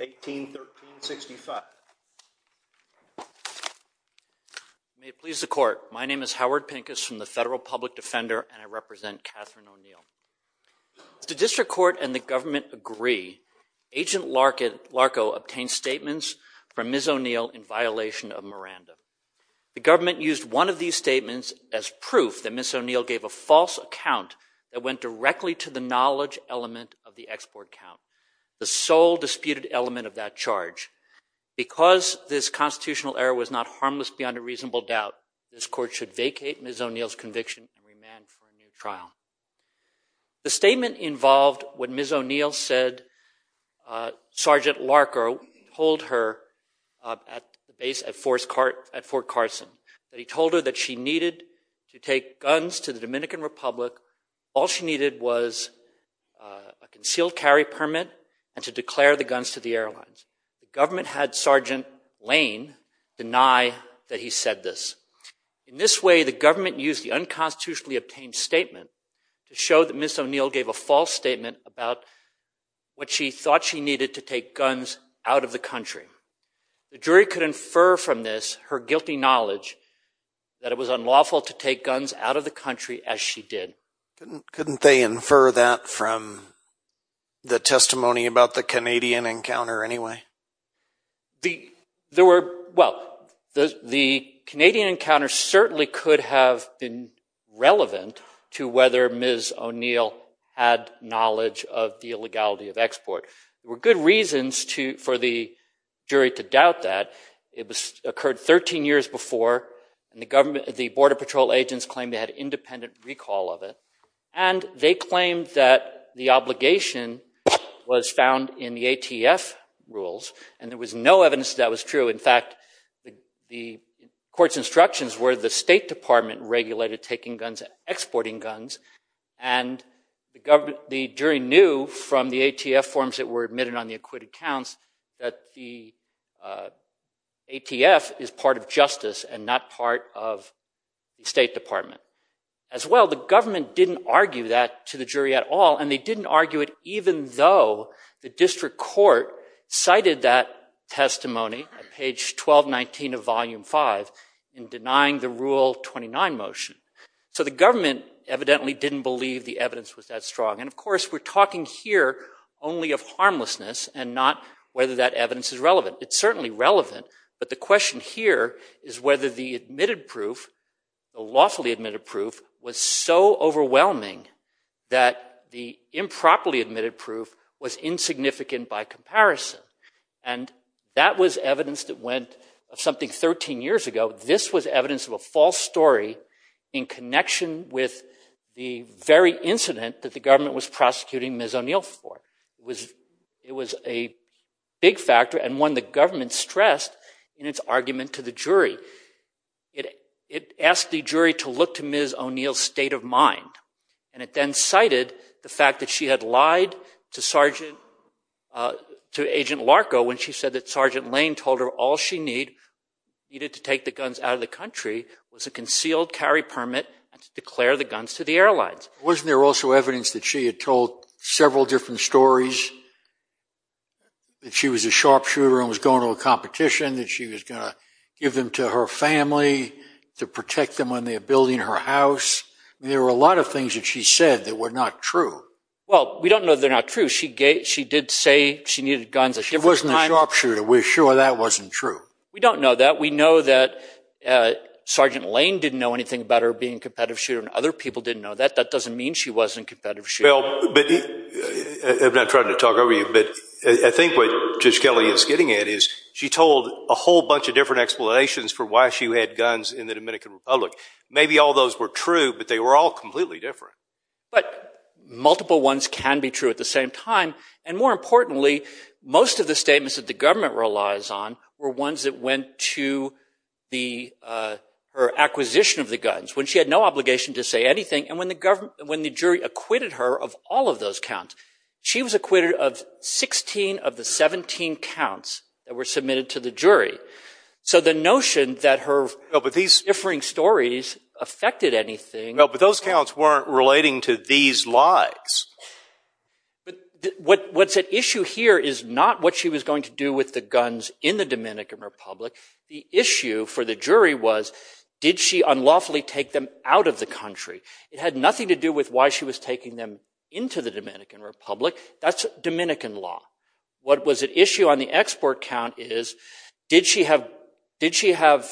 1813 65 May it please the court, my name is Howard Pincus from the Federal Public Defender and I represent Catherine O'Neal. As the District Court and the government agree, Agent Larkin Larko obtained statements from Ms. O'Neal in violation of Miranda. The government used one of these statements as proof that Ms. O'Neal gave a false account that went directly to the knowledge element of the export count, the sole disputed element of that charge. Because this constitutional error was not harmless beyond a reasonable doubt, this court should vacate Ms. O'Neal's conviction and remand for a new trial. The statement involved when Ms. O'Neal said Sergeant Larko told her at the base at Fort Carson that he told her that she needed to take guns to the Dominican Republic, all she needed was a concealed carry permit and to declare the guns to the airlines. The government had Sergeant Lane deny that he said this. In this way, the government used the unconstitutionally obtained statement to show that Ms. O'Neal gave a false statement about what she thought she needed to take that it was unlawful to take guns out of the country as she did. Couldn't they infer that from the testimony about the Canadian encounter anyway? The Canadian encounter certainly could have been relevant to whether Ms. O'Neal had knowledge of the illegality of export. There were good reasons for the jury to doubt that. It occurred 13 years before. The Border Patrol agents claimed they had independent recall of it. They claimed that the obligation was found in the ATF rules. There was no evidence that was true. In fact, the court's instructions were the State Department regulated taking guns and exporting guns. The jury knew from the ATF forms that were admitted on the acquitted accounts that the ATF is part of justice and not part of the State Department. As well, the government didn't argue that to the jury at all, and they didn't argue it even though the district court cited that testimony at page 1219 of Volume 5 in denying the Rule 29 motion. So the government evidently didn't believe the evidence was that strong. Of course, we're talking here only of harmlessness and not whether that evidence is relevant. It's certainly relevant, but the question here is whether the admitted proof, the lawfully admitted proof, was so overwhelming that the improperly admitted proof was insignificant by comparison. That was evidence that went something 13 years ago. This was evidence of a false story in connection with the very incident that the government was prosecuting Ms. O'Neill for. It was a big factor and one the government stressed in its argument to the jury. It asked the jury to look to Ms. O'Neill's state of mind, and it then cited the fact that she had lied to Agent Larko when she said that Sergeant Lane told her all she needed to take the guns out of the country was a concealed carry permit and to declare the guns to the airlines. Wasn't there also evidence that she had told several different stories, that she was a sharpshooter and was going to a competition, that she was going to give them to her family to protect them when they were building her house? There were a lot of things that she said that were not true. Well, we don't know they're not true. She did say she needed guns at different times. She wasn't a sharpshooter. We're sure that wasn't true. We don't know that. We know that Sergeant Lane didn't know anything about her being a competitive shooter and other people didn't know that. That doesn't mean she wasn't a competitive shooter. I'm not trying to talk over you, but I think what Judge Kelly is getting at is she told a whole bunch of different explanations for why she had guns in the Dominican Republic. Maybe all those were true, but they were all completely different. But multiple ones can be true at the same time, and more importantly, most of the statements that the government relies on were ones that went to her acquisition of the guns, when she had no obligation to say anything, and when the jury acquitted her of all of those counts. She was acquitted of 16 of the 17 counts that were submitted to the jury. So the notion that her differing stories affected anything... ...according to these lies. What's at issue here is not what she was going to do with the guns in the Dominican Republic. The issue for the jury was, did she unlawfully take them out of the country? It had nothing to do with why she was taking them into the Dominican Republic. That's Dominican law. What was at issue on the export count is, did she have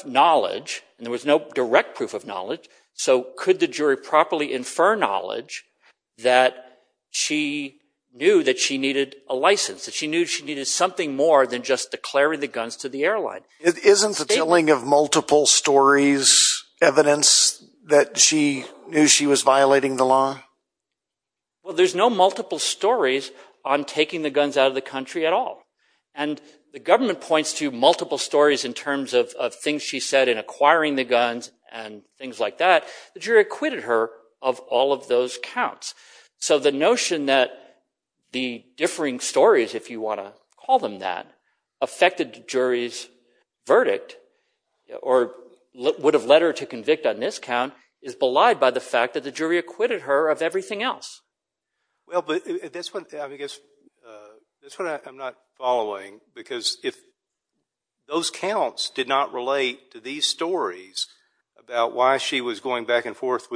knowledge, and there was no direct proof of knowledge, so could the jury properly infer knowledge that she knew that she needed a license, that she knew she needed something more than just declaring the guns to the airline? Isn't the telling of multiple stories evidence that she knew she was violating the law? There's no multiple stories on taking the guns out of the country at all. The government points to multiple stories in terms of things she said in acquiring the guns and things like that. The jury acquitted her of all of those counts. So the notion that the differing stories, if you want to call them that, affected the jury's verdict, or would have led her to convict on this count, is belied by the fact that the jury acquitted her of everything else. Well, but that's what I'm not following, because if those counts did not relate to these stories about why she was going back and forth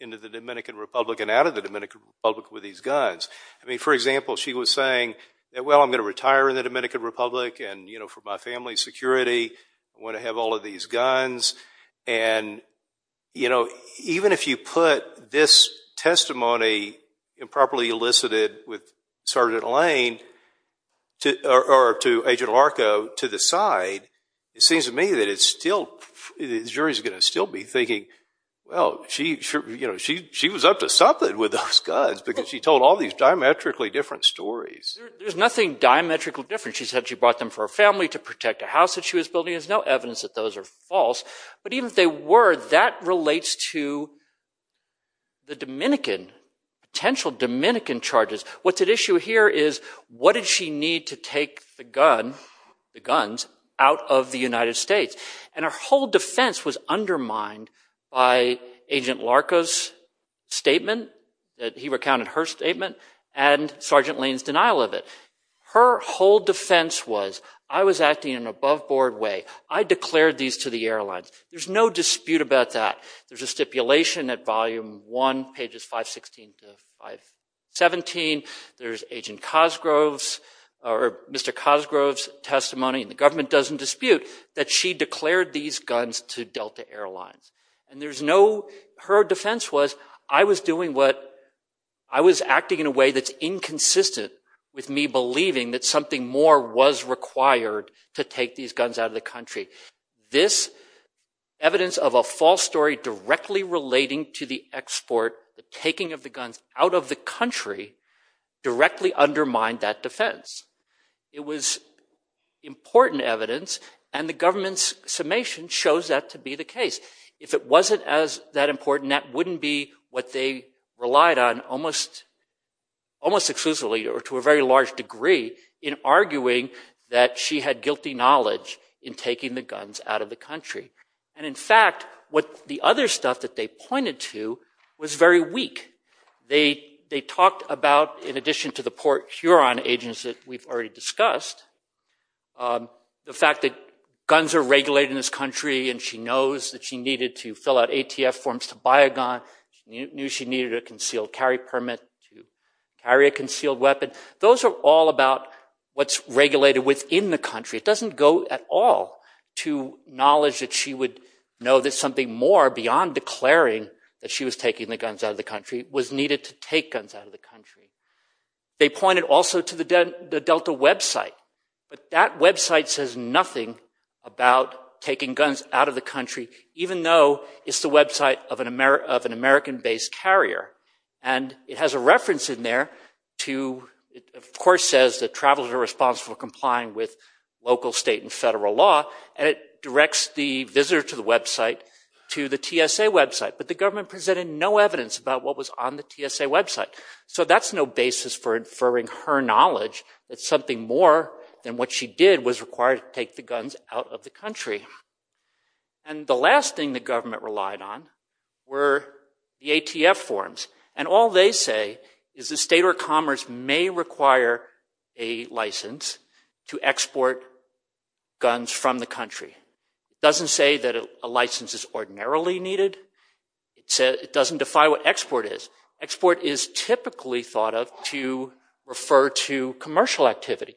into the Dominican Republic and out of the Dominican Republic with these guns, I mean, for example, she was saying, well, I'm going to retire in the Dominican Republic, and for my family's security, I want to have all of these guns. Even if you put this testimony, improperly elicited, with Sergeant Lane, or to Agent Lane, she's going to still be thinking, well, she was up to something with those guns because she told all these diametrically different stories. There's nothing diametrically different. She said she brought them for her family to protect a house that she was building. There's no evidence that those are false. But even if they were, that relates to the Dominican, potential Dominican charges. What's at issue here is, what did she need to take the guns out of the United States? Her whole defense was undermined by Agent Larco's statement, that he recounted her statement, and Sergeant Lane's denial of it. Her whole defense was, I was acting in an aboveboard way. I declared these to the airlines. There's no dispute about that. There's a stipulation at volume one, pages 516 to 517. There's Agent Cosgrove's, or Mr. Cosgrove's testimony, and the government doesn't dispute, that she declared these guns to Delta Airlines. Her defense was, I was doing what, I was acting in a way that's inconsistent with me believing that something more was required to take these guns out of the country. This evidence of a false story directly relating to the export, the taking of the guns out of the country, directly undermined that defense. It was important evidence, and the government's summation shows that to be the case. If it wasn't as that important, that wouldn't be what they relied on almost exclusively, or to a very large degree, in arguing that she had guilty knowledge in taking the guns out of the country. And in fact, what the other stuff that they pointed to was very weak. They talked about, in addition to the Port Huron agents that we've already discussed, the fact that guns are regulated in this country, and she knows that she needed to fill out ATF forms to buy a gun, she knew she needed a concealed carry permit to carry a concealed weapon. Those are all about what's regulated within the country. It doesn't go at all to knowledge that she would know that something more, beyond declaring that she was taking the guns out of the country, was needed to take guns out of the country. They pointed also to the Delta website, but that website says nothing about taking guns out of the country, even though it's the website of an American-based carrier. And it has a reference in there to, of course, says that travelers are responsible for complying with local, state, and federal law, and it directs the visitor to the website, to the government presented no evidence about what was on the TSA website. So that's no basis for inferring her knowledge that something more than what she did was required to take the guns out of the country. And the last thing the government relied on were the ATF forms. And all they say is the state of commerce may require a license to export guns from the country. It doesn't say that a license is ordinarily needed. It doesn't defy what export is. Export is typically thought of to refer to commercial activity.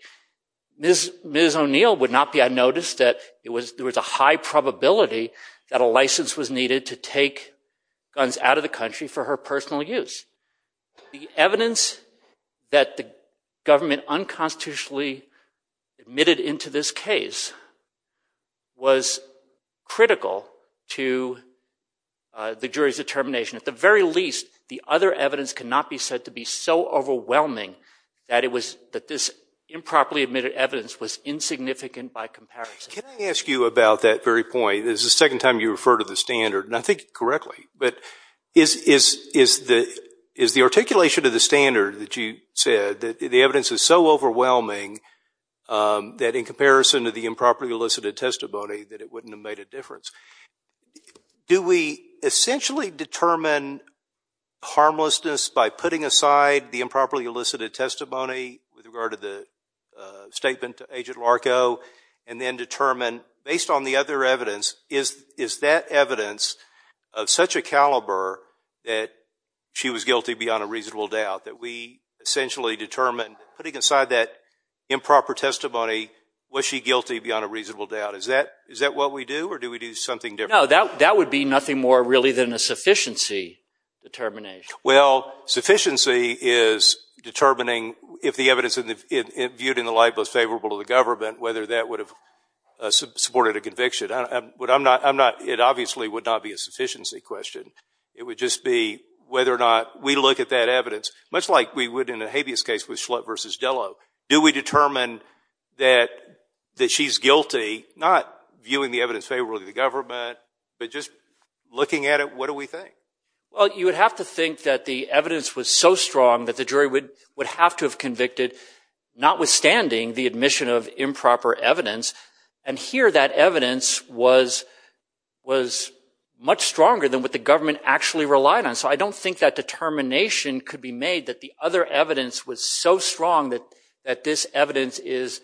Ms. O'Neill would not be unnoticed that there was a high probability that a license was needed to take guns out of the country for her personal use. The evidence that the government unconstitutionally admitted into this case was critical to the jury's determination. At the very least, the other evidence cannot be said to be so overwhelming that this improperly admitted evidence was insignificant by comparison. Can I ask you about that very point? This is the second time you refer to the standard, and I think correctly, but is the articulation of the standard that you said that the evidence is so overwhelming that in comparison to the improperly elicited testimony that it wouldn't have made a difference? Do we essentially determine harmlessness by putting aside the improperly elicited testimony with regard to the statement to Agent Larco, and then determine, based on the other evidence, is that evidence of such a caliber that she was guilty beyond a reasonable doubt, that we essentially determine, putting aside that improper testimony, was she guilty beyond a reasonable doubt? Is that what we do, or do we do something different? No, that would be nothing more really than a sufficiency determination. Well, sufficiency is determining if the evidence viewed in the light was favorable to the government, whether that would have supported a conviction. It obviously would not be a sufficiency question. It would just be whether or not we look at that evidence, much like we would in a habeas case with Schlutt v. Dello. Do we determine that she's guilty, not viewing the evidence favorably to the government, but just looking at it, what do we think? Well, you would have to think that the evidence was so strong that the jury would have to have convicted, notwithstanding the admission of improper evidence. And here, that evidence was much stronger than what the government actually relied on. So I don't think that determination could be made that the other evidence was so strong that this evidence is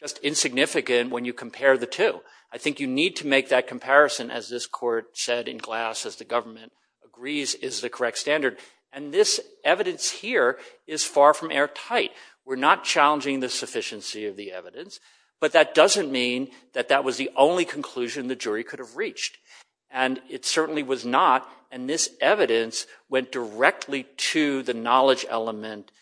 just insignificant when you compare the two. I think you need to make that comparison, as this court said in Glass, as the government agrees is the correct standard. And this evidence here is far from airtight. We're not challenging the sufficiency of the evidence, but that doesn't mean that that was the only conclusion the jury could have reached. And it certainly was not, and this evidence went directly to the knowledge element.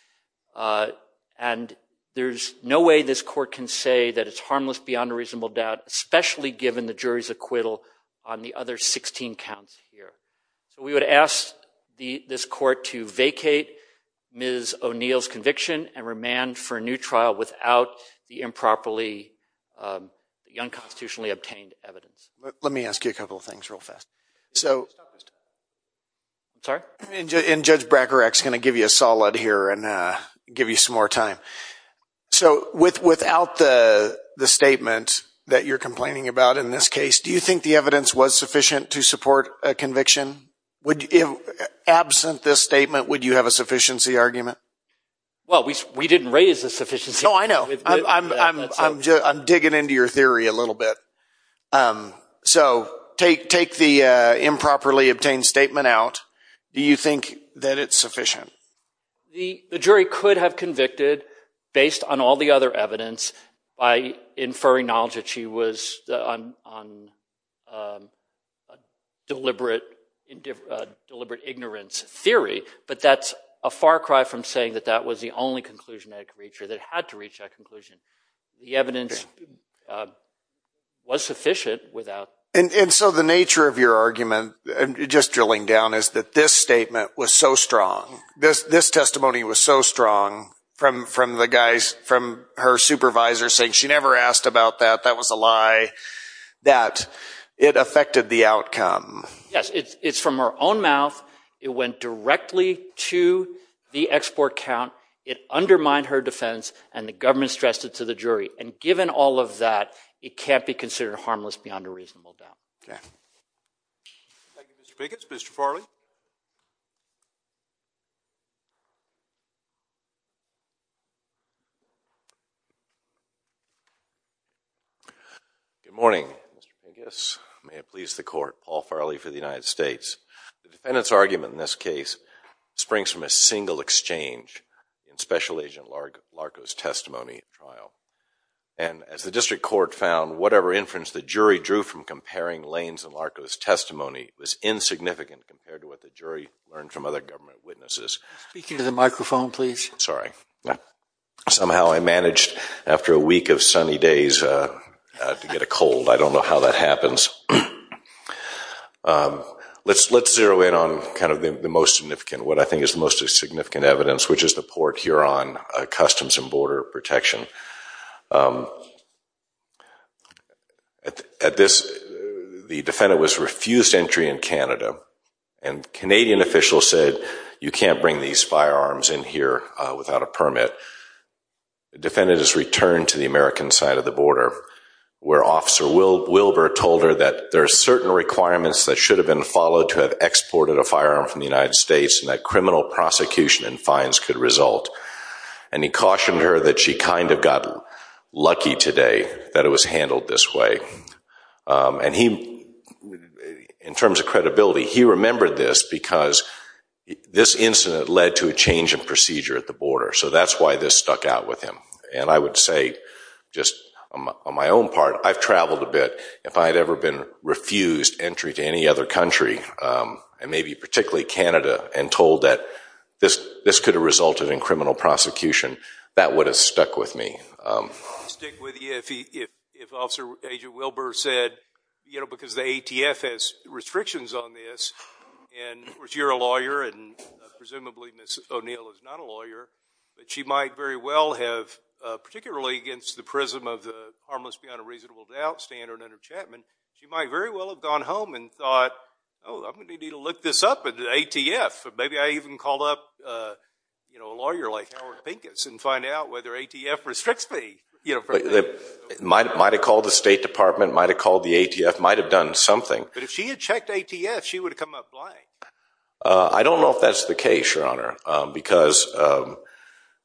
And there's no way this court can say that it's harmless beyond a reasonable doubt, especially given the jury's acquittal on the other 16 counts here. So we would ask this court to vacate Ms. O'Neill's conviction and remand for a new trial without the improperly, the unconstitutionally obtained evidence. Let me ask you a couple of things real fast. So... I'm sorry? And Judge Bracarak's going to give you a solid here and give you some more time. So without the statement that you're complaining about in this case, do you think the evidence was sufficient to support a conviction? Absent this statement, would you have a sufficiency argument? Well, we didn't raise the sufficiency argument. No, I know. I'm digging into your theory a little bit. So take the improperly obtained statement out. Do you think that it's sufficient? The jury could have convicted based on all the other evidence by inferring knowledge that she was on deliberate ignorance theory, but that's a far cry from saying that that was the only conclusion that could reach her, that it had to reach that conclusion. The evidence was sufficient without... And so the nature of your argument, just drilling down, is that this statement was so strong, this testimony was so strong from the guys, from her supervisor saying she never asked about that, that was a lie, that it affected the outcome. Yes, it's from her own mouth. It went directly to the export count. It undermined her defense and the government stressed it to the jury. And given all of that, it can't be considered harmless beyond a reasonable doubt. Okay. Thank you, Mr. Biggis. Mr. Farley? Good morning, Mr. Biggis. May it please the court. Paul Farley for the United States. The defendant's argument in this case springs from a single exchange in Special Agent Larco's testimony at trial. And as the district court found, whatever inference the jury drew from comparing Lane's and Larco's testimony was insignificant compared to what the jury learned from other government witnesses. Speak into the microphone, please. Sorry. Somehow I managed, after a week of sunny days, to get a cold. I don't know how that happens. Let's zero in on kind of the most significant, what I think is the most significant evidence, which is the court here on Customs and Border Protection. At this, the defendant was refused entry in Canada. And Canadian officials said, you can't bring these firearms in here without a permit. The defendant is returned to the American side of the border where Officer Wilbur told her that there are certain requirements that should have been followed to have exported a firearm from the United States and that criminal prosecution and fines could result. And he cautioned her that she kind of got lucky today that it was handled this way. And he, in terms of credibility, he remembered this because this incident led to a change in procedure at the border. So that's why this stuck out with him. And I would say, just on my own part, I've traveled a bit. If I had ever been refused entry to any other country, and maybe particularly Canada, and told that this could have resulted in criminal prosecution, that would have stuck with me. I'd stick with you if Officer Aja Wilbur said, because the ATF has restrictions on this, and of course, you're a lawyer, and presumably Ms. O'Neill is not a lawyer, but she might very well have, particularly against the prism of the harmless beyond a reasonable doubt standard under Chapman, she might very well have gone home and thought, oh, I'm going to need to look this up at the ATF. Maybe I even called up a lawyer like Howard Pinkett and find out whether ATF restricts me. Might have called the State Department, might have called the ATF, might have done something. But if she had checked ATF, she would have come up blank. I don't know if that's the case, Your Honor, because the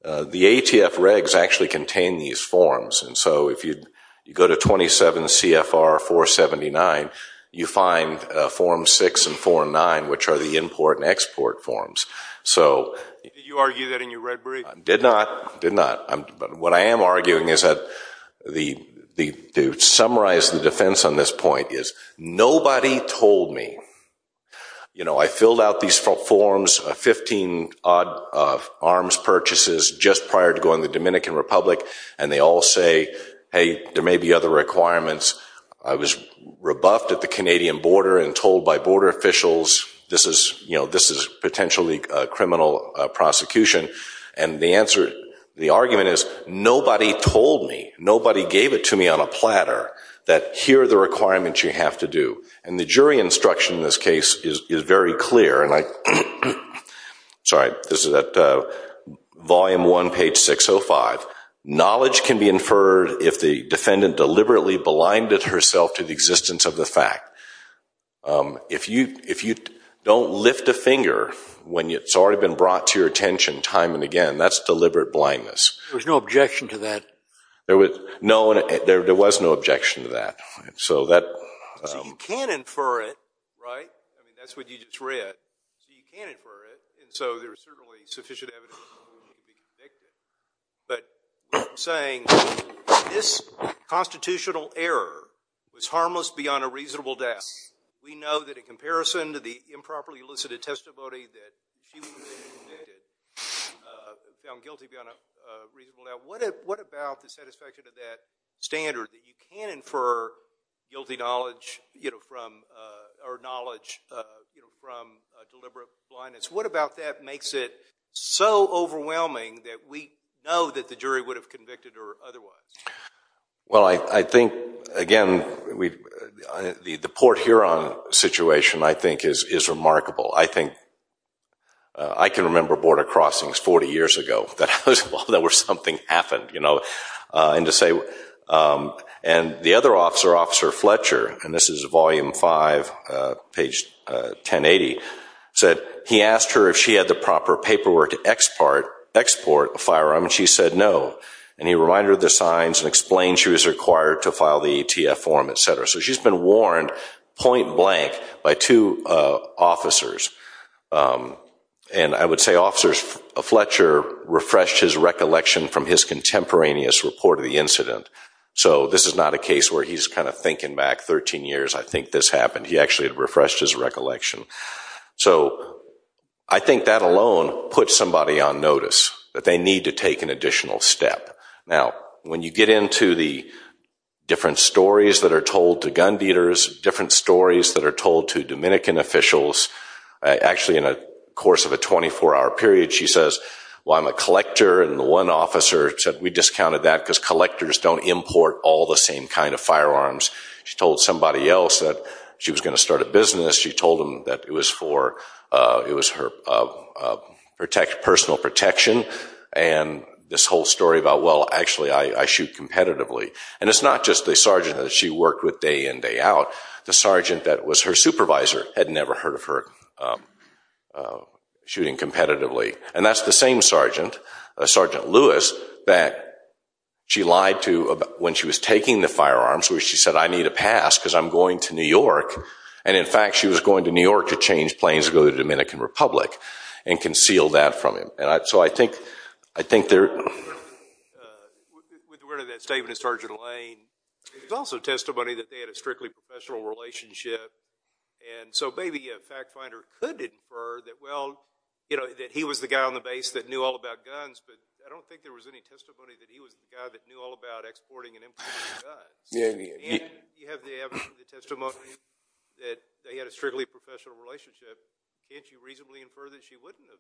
ATF regs actually contain these forms. And so if you go to 27 CFR 479, you find Forms 6 and 4 and 9, which are the import and export forms. So... Did you argue that in your red brief? Did not. Did not. But what I am arguing is that, to summarize the defense on this point, is nobody told me. You know, I filled out these forms, 15-odd arms purchases just prior to going to the VA. Hey, there may be other requirements. I was rebuffed at the Canadian border and told by border officials, this is, you know, this is potentially a criminal prosecution. And the answer, the argument is, nobody told me. Nobody gave it to me on a platter that here are the requirements you have to do. And the jury instruction in this case is very clear. And I... Sorry. This is at Volume 1, page 605. Knowledge can be inferred if the defendant deliberately blinded herself to the existence of the fact. If you don't lift a finger when it's already been brought to your attention time and again, that's deliberate blindness. There was no objection to that? There was... No, there was no objection to that. So that... So you can infer it, right? I mean, that's what you just read. So you can infer it. And so there's certainly sufficient evidence that she would be convicted. But saying this constitutional error was harmless beyond a reasonable doubt, we know that in comparison to the improperly elicited testimony that she would have been convicted, found guilty beyond a reasonable doubt. What about the satisfaction of that standard that you can infer guilty knowledge, you know, from, or knowledge, you know, from deliberate blindness? What about that makes it so overwhelming that we know that the jury would have convicted her otherwise? Well, I think, again, the Port Huron situation, I think, is remarkable. I think... I can remember border crossings 40 years ago. That was where something happened, you know. And to say... And the other officer, Officer Fletcher, and this is volume 5, page 1080, said he asked her if she had the proper paperwork to export a firearm, and she said no. And he reminded her of the signs and explained she was required to file the ATF form, etc. So she's been warned point blank by two officers. And I would say Officer Fletcher refreshed his recollection from his contemporaneous report of the incident. So this is not a case where he's kind of thinking back 13 years, I think this happened. He actually refreshed his recollection. So I think that alone puts somebody on notice, that they need to take an additional step. Now, when you get into the different stories that are told to gun dealers, different stories that are told to Dominican officials, actually in a course of a 24-hour period, she says, well, I'm a collector, and the one officer said, we discounted that because collectors don't import all the same kind of firearms. She told somebody else that she was going to start a business. She told them that it was for her personal protection. And this whole story about, well, actually, I shoot competitively. And it's not just the sergeant that she worked with day in, day out. The sergeant that was her supervisor had never heard of her shooting competitively. And that's the same sergeant, Sergeant Lewis, that she lied to when she was taking the firearms, where she said, I need a pass because I'm going to New York. And in fact, she was going to New York to change planes to go to the Dominican Republic and concealed that from him. So I think there are... With regard to that statement of Sergeant Lane, there's also testimony that they had a strictly professional relationship. And so maybe a fact finder could infer that, well, that he was the guy on the base that knew all about guns. But I don't think there was any testimony that he was the guy that knew all about exporting and importing guns. And you have the testimony that they had a strictly professional relationship. Can't you reasonably infer that she wouldn't have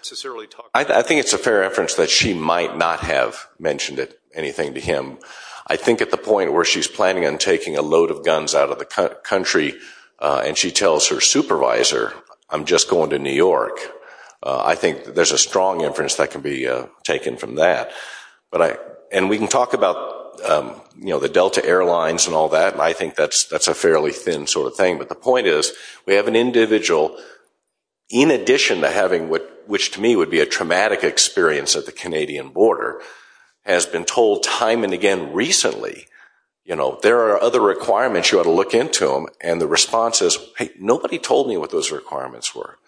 necessarily talked about it? I think it's a fair reference that she might not have mentioned anything to him. I think at the point where she's planning on taking a load of guns out of the country and she tells her supervisor, I'm just going to New York, I think there's a strong inference that can be taken from that. And we can talk about the Delta Airlines and all that, and I think that's a fairly thin sort of thing. But the point is, we have an individual, in addition to having what, which to me would be a traumatic experience at the Canadian border, has been told time and again recently, there are other requirements, you ought to look into them. And the response is, hey, nobody told me what those requirements were.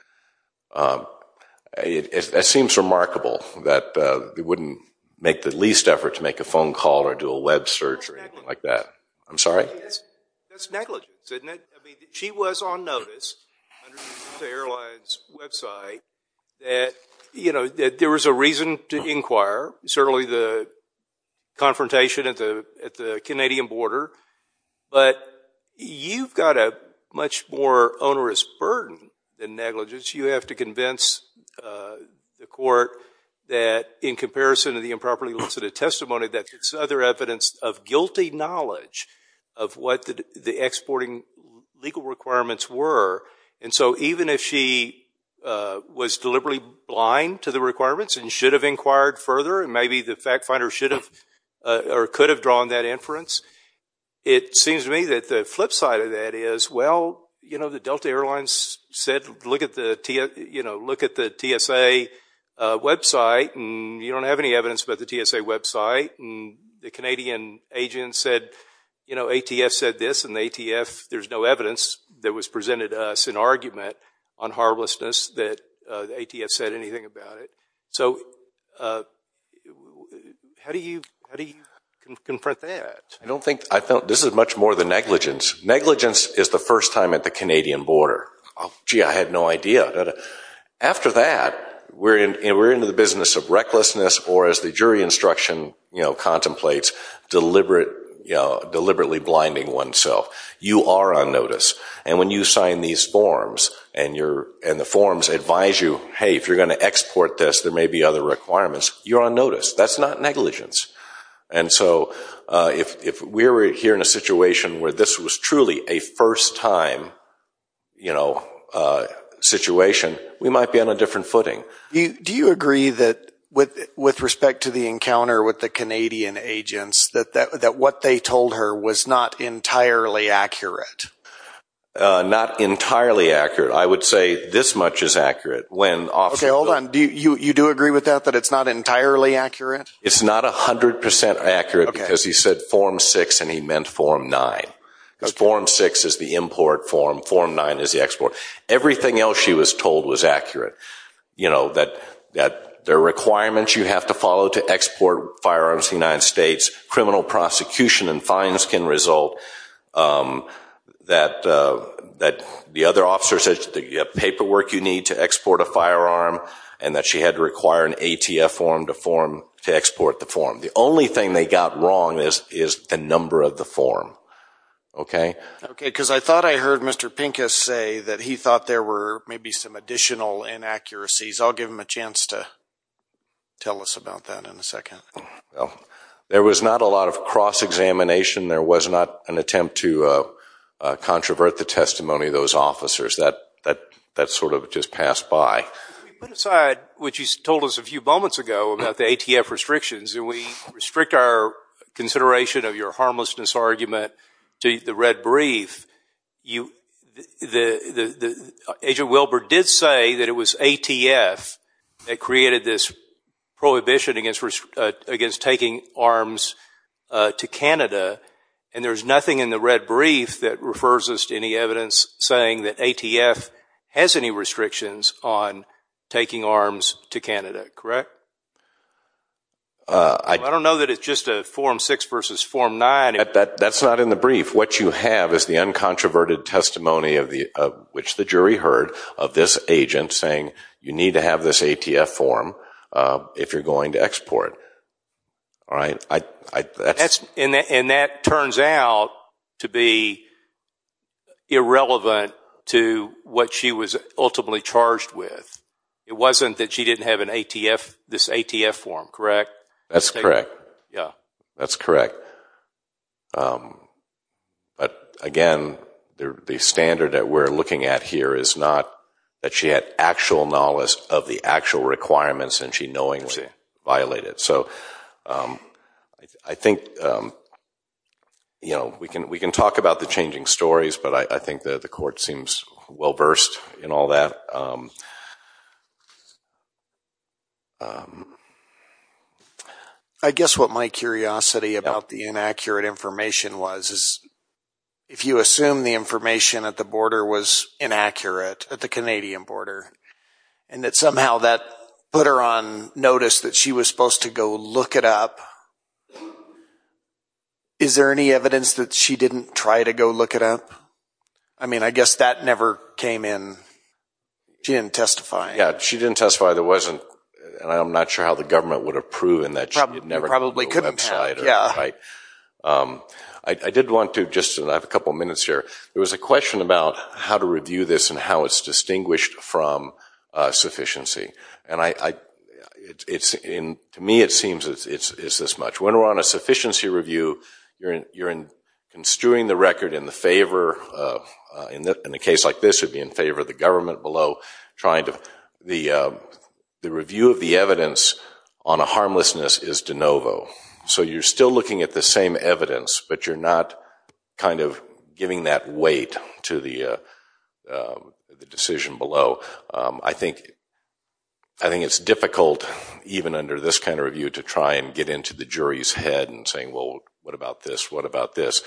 It seems remarkable that they wouldn't make the least effort to make a phone call or do a web search or anything like that. I'm sorry? That's negligence, isn't it? She was on notice, under the Delta Airlines website, that there was a reason to inquire, certainly the confrontation at the Canadian border. But you've got a much more onerous burden than negligence. You have to convince the court that in comparison to the improperly listed testimony, that's other evidence of guilty knowledge of what the exporting legal requirements were. And so even if she was deliberately blind to the requirements and should have inquired further and maybe the fact finder should have or could have drawn that inference, it seems to me that the flip side of that is, well, you know, the Delta Airlines said look at the TSA website and you don't have any evidence about the TSA website. The Canadian agent said, you know, ATF said this and ATF, there's no evidence that was presented to us in argument on horribleness that ATF said anything about it. So how do you confront that? I don't think, this is much more than negligence. Negligence is the first time at the Canadian border. Gee, I had no idea. After that, we're into the business of recklessness or as the jury instruction contemplates, deliberately blinding oneself. You are on notice. And when you sign these forms and the forms advise you, hey, if you're going to export this there may be other requirements, you're on notice. That's not negligence. And so if we're here in a situation where this was truly a first time, you know, situation, we might be on a different footing. Do you agree that with respect to the encounter with the Canadian agents, that what they told her was not entirely accurate? Not entirely accurate. I would say this much is accurate. Okay, hold on. You do agree with that, that it's not entirely accurate? It's not 100% accurate because he said form six and he meant form nine. Form six is the import form, form nine is the export. Everything else she was told was accurate. You know, that there are requirements you have to follow to export firearms in the United States. Criminal prosecution and fines can result. That the other officer said you have paperwork you need to export a firearm and that she had to require an ATF form to export the form. The only thing they got wrong is the number of the form. Okay? Okay. Because I thought I heard Mr. Pincus say that he thought there were maybe some additional inaccuracies. I'll give him a chance to tell us about that in a second. There was not a lot of cross-examination. There was not an attempt to controvert the testimony of those officers. That sort of just passed by. If we put aside what you told us a few moments ago about the ATF restrictions and we restrict our consideration of your harmlessness argument to the red brief, Agent Wilbur did say that it was ATF that created this prohibition against taking arms to Canada. And there's nothing in the red brief that refers us to any evidence saying that ATF has any restrictions on taking arms to Canada. Correct? I don't know that it's just a Form 6 versus Form 9. That's not in the brief. What you have is the uncontroverted testimony of which the jury heard of this agent saying you need to have this ATF form if you're going to export. All right? And that turns out to be irrelevant to what she was ultimately charged with. It wasn't that she didn't have this ATF form, correct? That's correct. That's correct. But again, the standard that we're looking at here is not that she had actual knowledge of the actual requirements and she knowingly violated. So I think we can talk about the changing stories, but I think the court seems well-versed in all that. I guess what my curiosity about the inaccurate information was is if you assume the information at the border was inaccurate, at the Canadian border, and that somehow that put her on notice that she was supposed to go look it up, is there any evidence that she didn't try to go look it up? I mean, I guess that never came in. She didn't testify. Yeah. She didn't testify. There wasn't, and I'm not sure how the government would have proven that she never could go to the website. Probably couldn't have. Yeah. Right? I did want to just, and I have a couple of minutes here, there was a question about how to review this and how it's distinguished from sufficiency. And to me it seems it's this much. When we're on a sufficiency review, you're construing the record in the favor, in a case like this it would be in favor of the government below trying to, the review of the evidence on a harmlessness is de novo. So you're still looking at the same evidence, but you're not kind of giving that weight to the decision below. So I think it's difficult, even under this kind of review, to try and get into the jury's head and saying, well, what about this? What about this?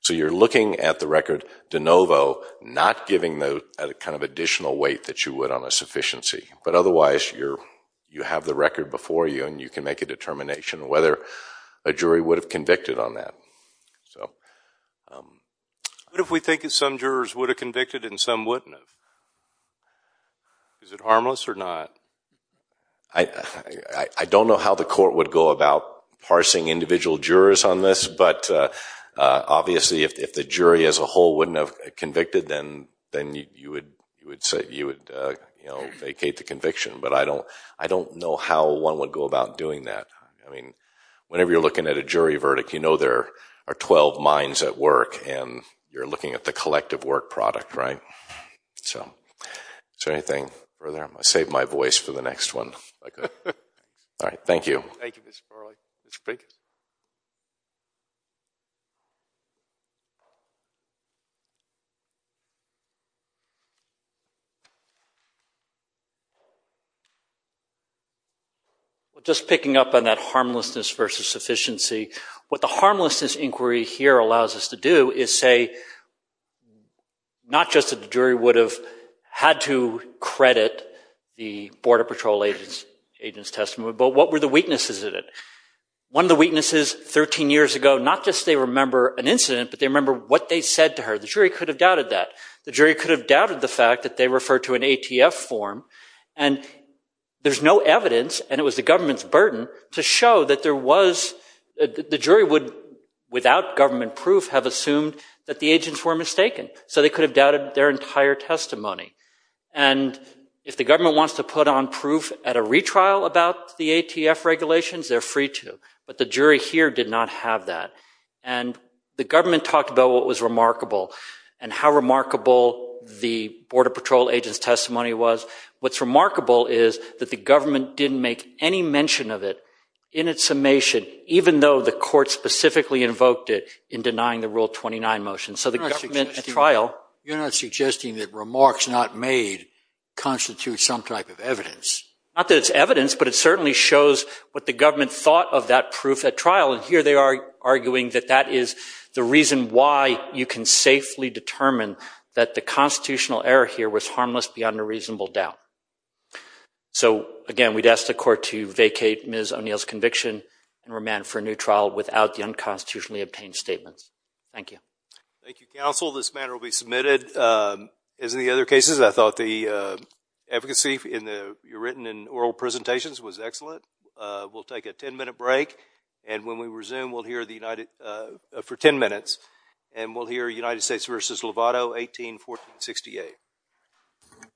So you're looking at the record de novo, not giving the kind of additional weight that you would on a sufficiency. But otherwise, you have the record before you and you can make a determination whether a jury would have convicted on that. So what if we think that some jurors would have convicted and some wouldn't have? Is it harmless or not? I don't know how the court would go about parsing individual jurors on this, but obviously if the jury as a whole wouldn't have convicted, then you would vacate the conviction. But I don't know how one would go about doing that. I mean, whenever you're looking at a jury verdict, you know there are 12 minds at work and you're looking at the collective work product, right? So is there anything further? I saved my voice for the next one. All right. Thank you. Thank you, Mr. Farley. Mr. Prigg? Well, just picking up on that harmlessness versus sufficiency, what the harmlessness inquiry here allows us to do is say not just that the jury would have had to credit the Border Patrol agent's testimony, but what were the weaknesses in it? One of the weaknesses 13 years ago, not just they remember an incident, but they remember what they said to her. The jury could have doubted that. The jury could have doubted the fact that they referred to an ATF form and there's no evidence and it was the government's burden to show that there was—the jury would, without government proof, have assumed that the agents were mistaken. So they could have doubted their entire testimony. And if the government wants to put on proof at a retrial about the ATF regulations, they're free to. But the jury here did not have that. And the government talked about what was remarkable and how remarkable the Border Patrol agent's testimony was. What's remarkable is that the government didn't make any mention of it in its summation, even though the court specifically invoked it in denying the Rule 29 motion. So the government at trial— You're not suggesting that remarks not made constitute some type of evidence. Not that it's evidence, but it certainly shows what the government thought of that proof at trial. And here they are arguing that that is the reason why you can safely determine that the constitutional error here was harmless beyond a reasonable doubt. So again, we'd ask the court to vacate Ms. O'Neill's conviction and remand for a new trial without the unconstitutionally obtained statements. Thank you, counsel. This matter will be submitted. As in the other cases, I thought the efficacy in the—written in oral presentations was excellent. We'll take a 10-minute break, and when we resume, we'll hear the United—for 10 minutes, and we'll hear United States v. Lovato, 18-1468.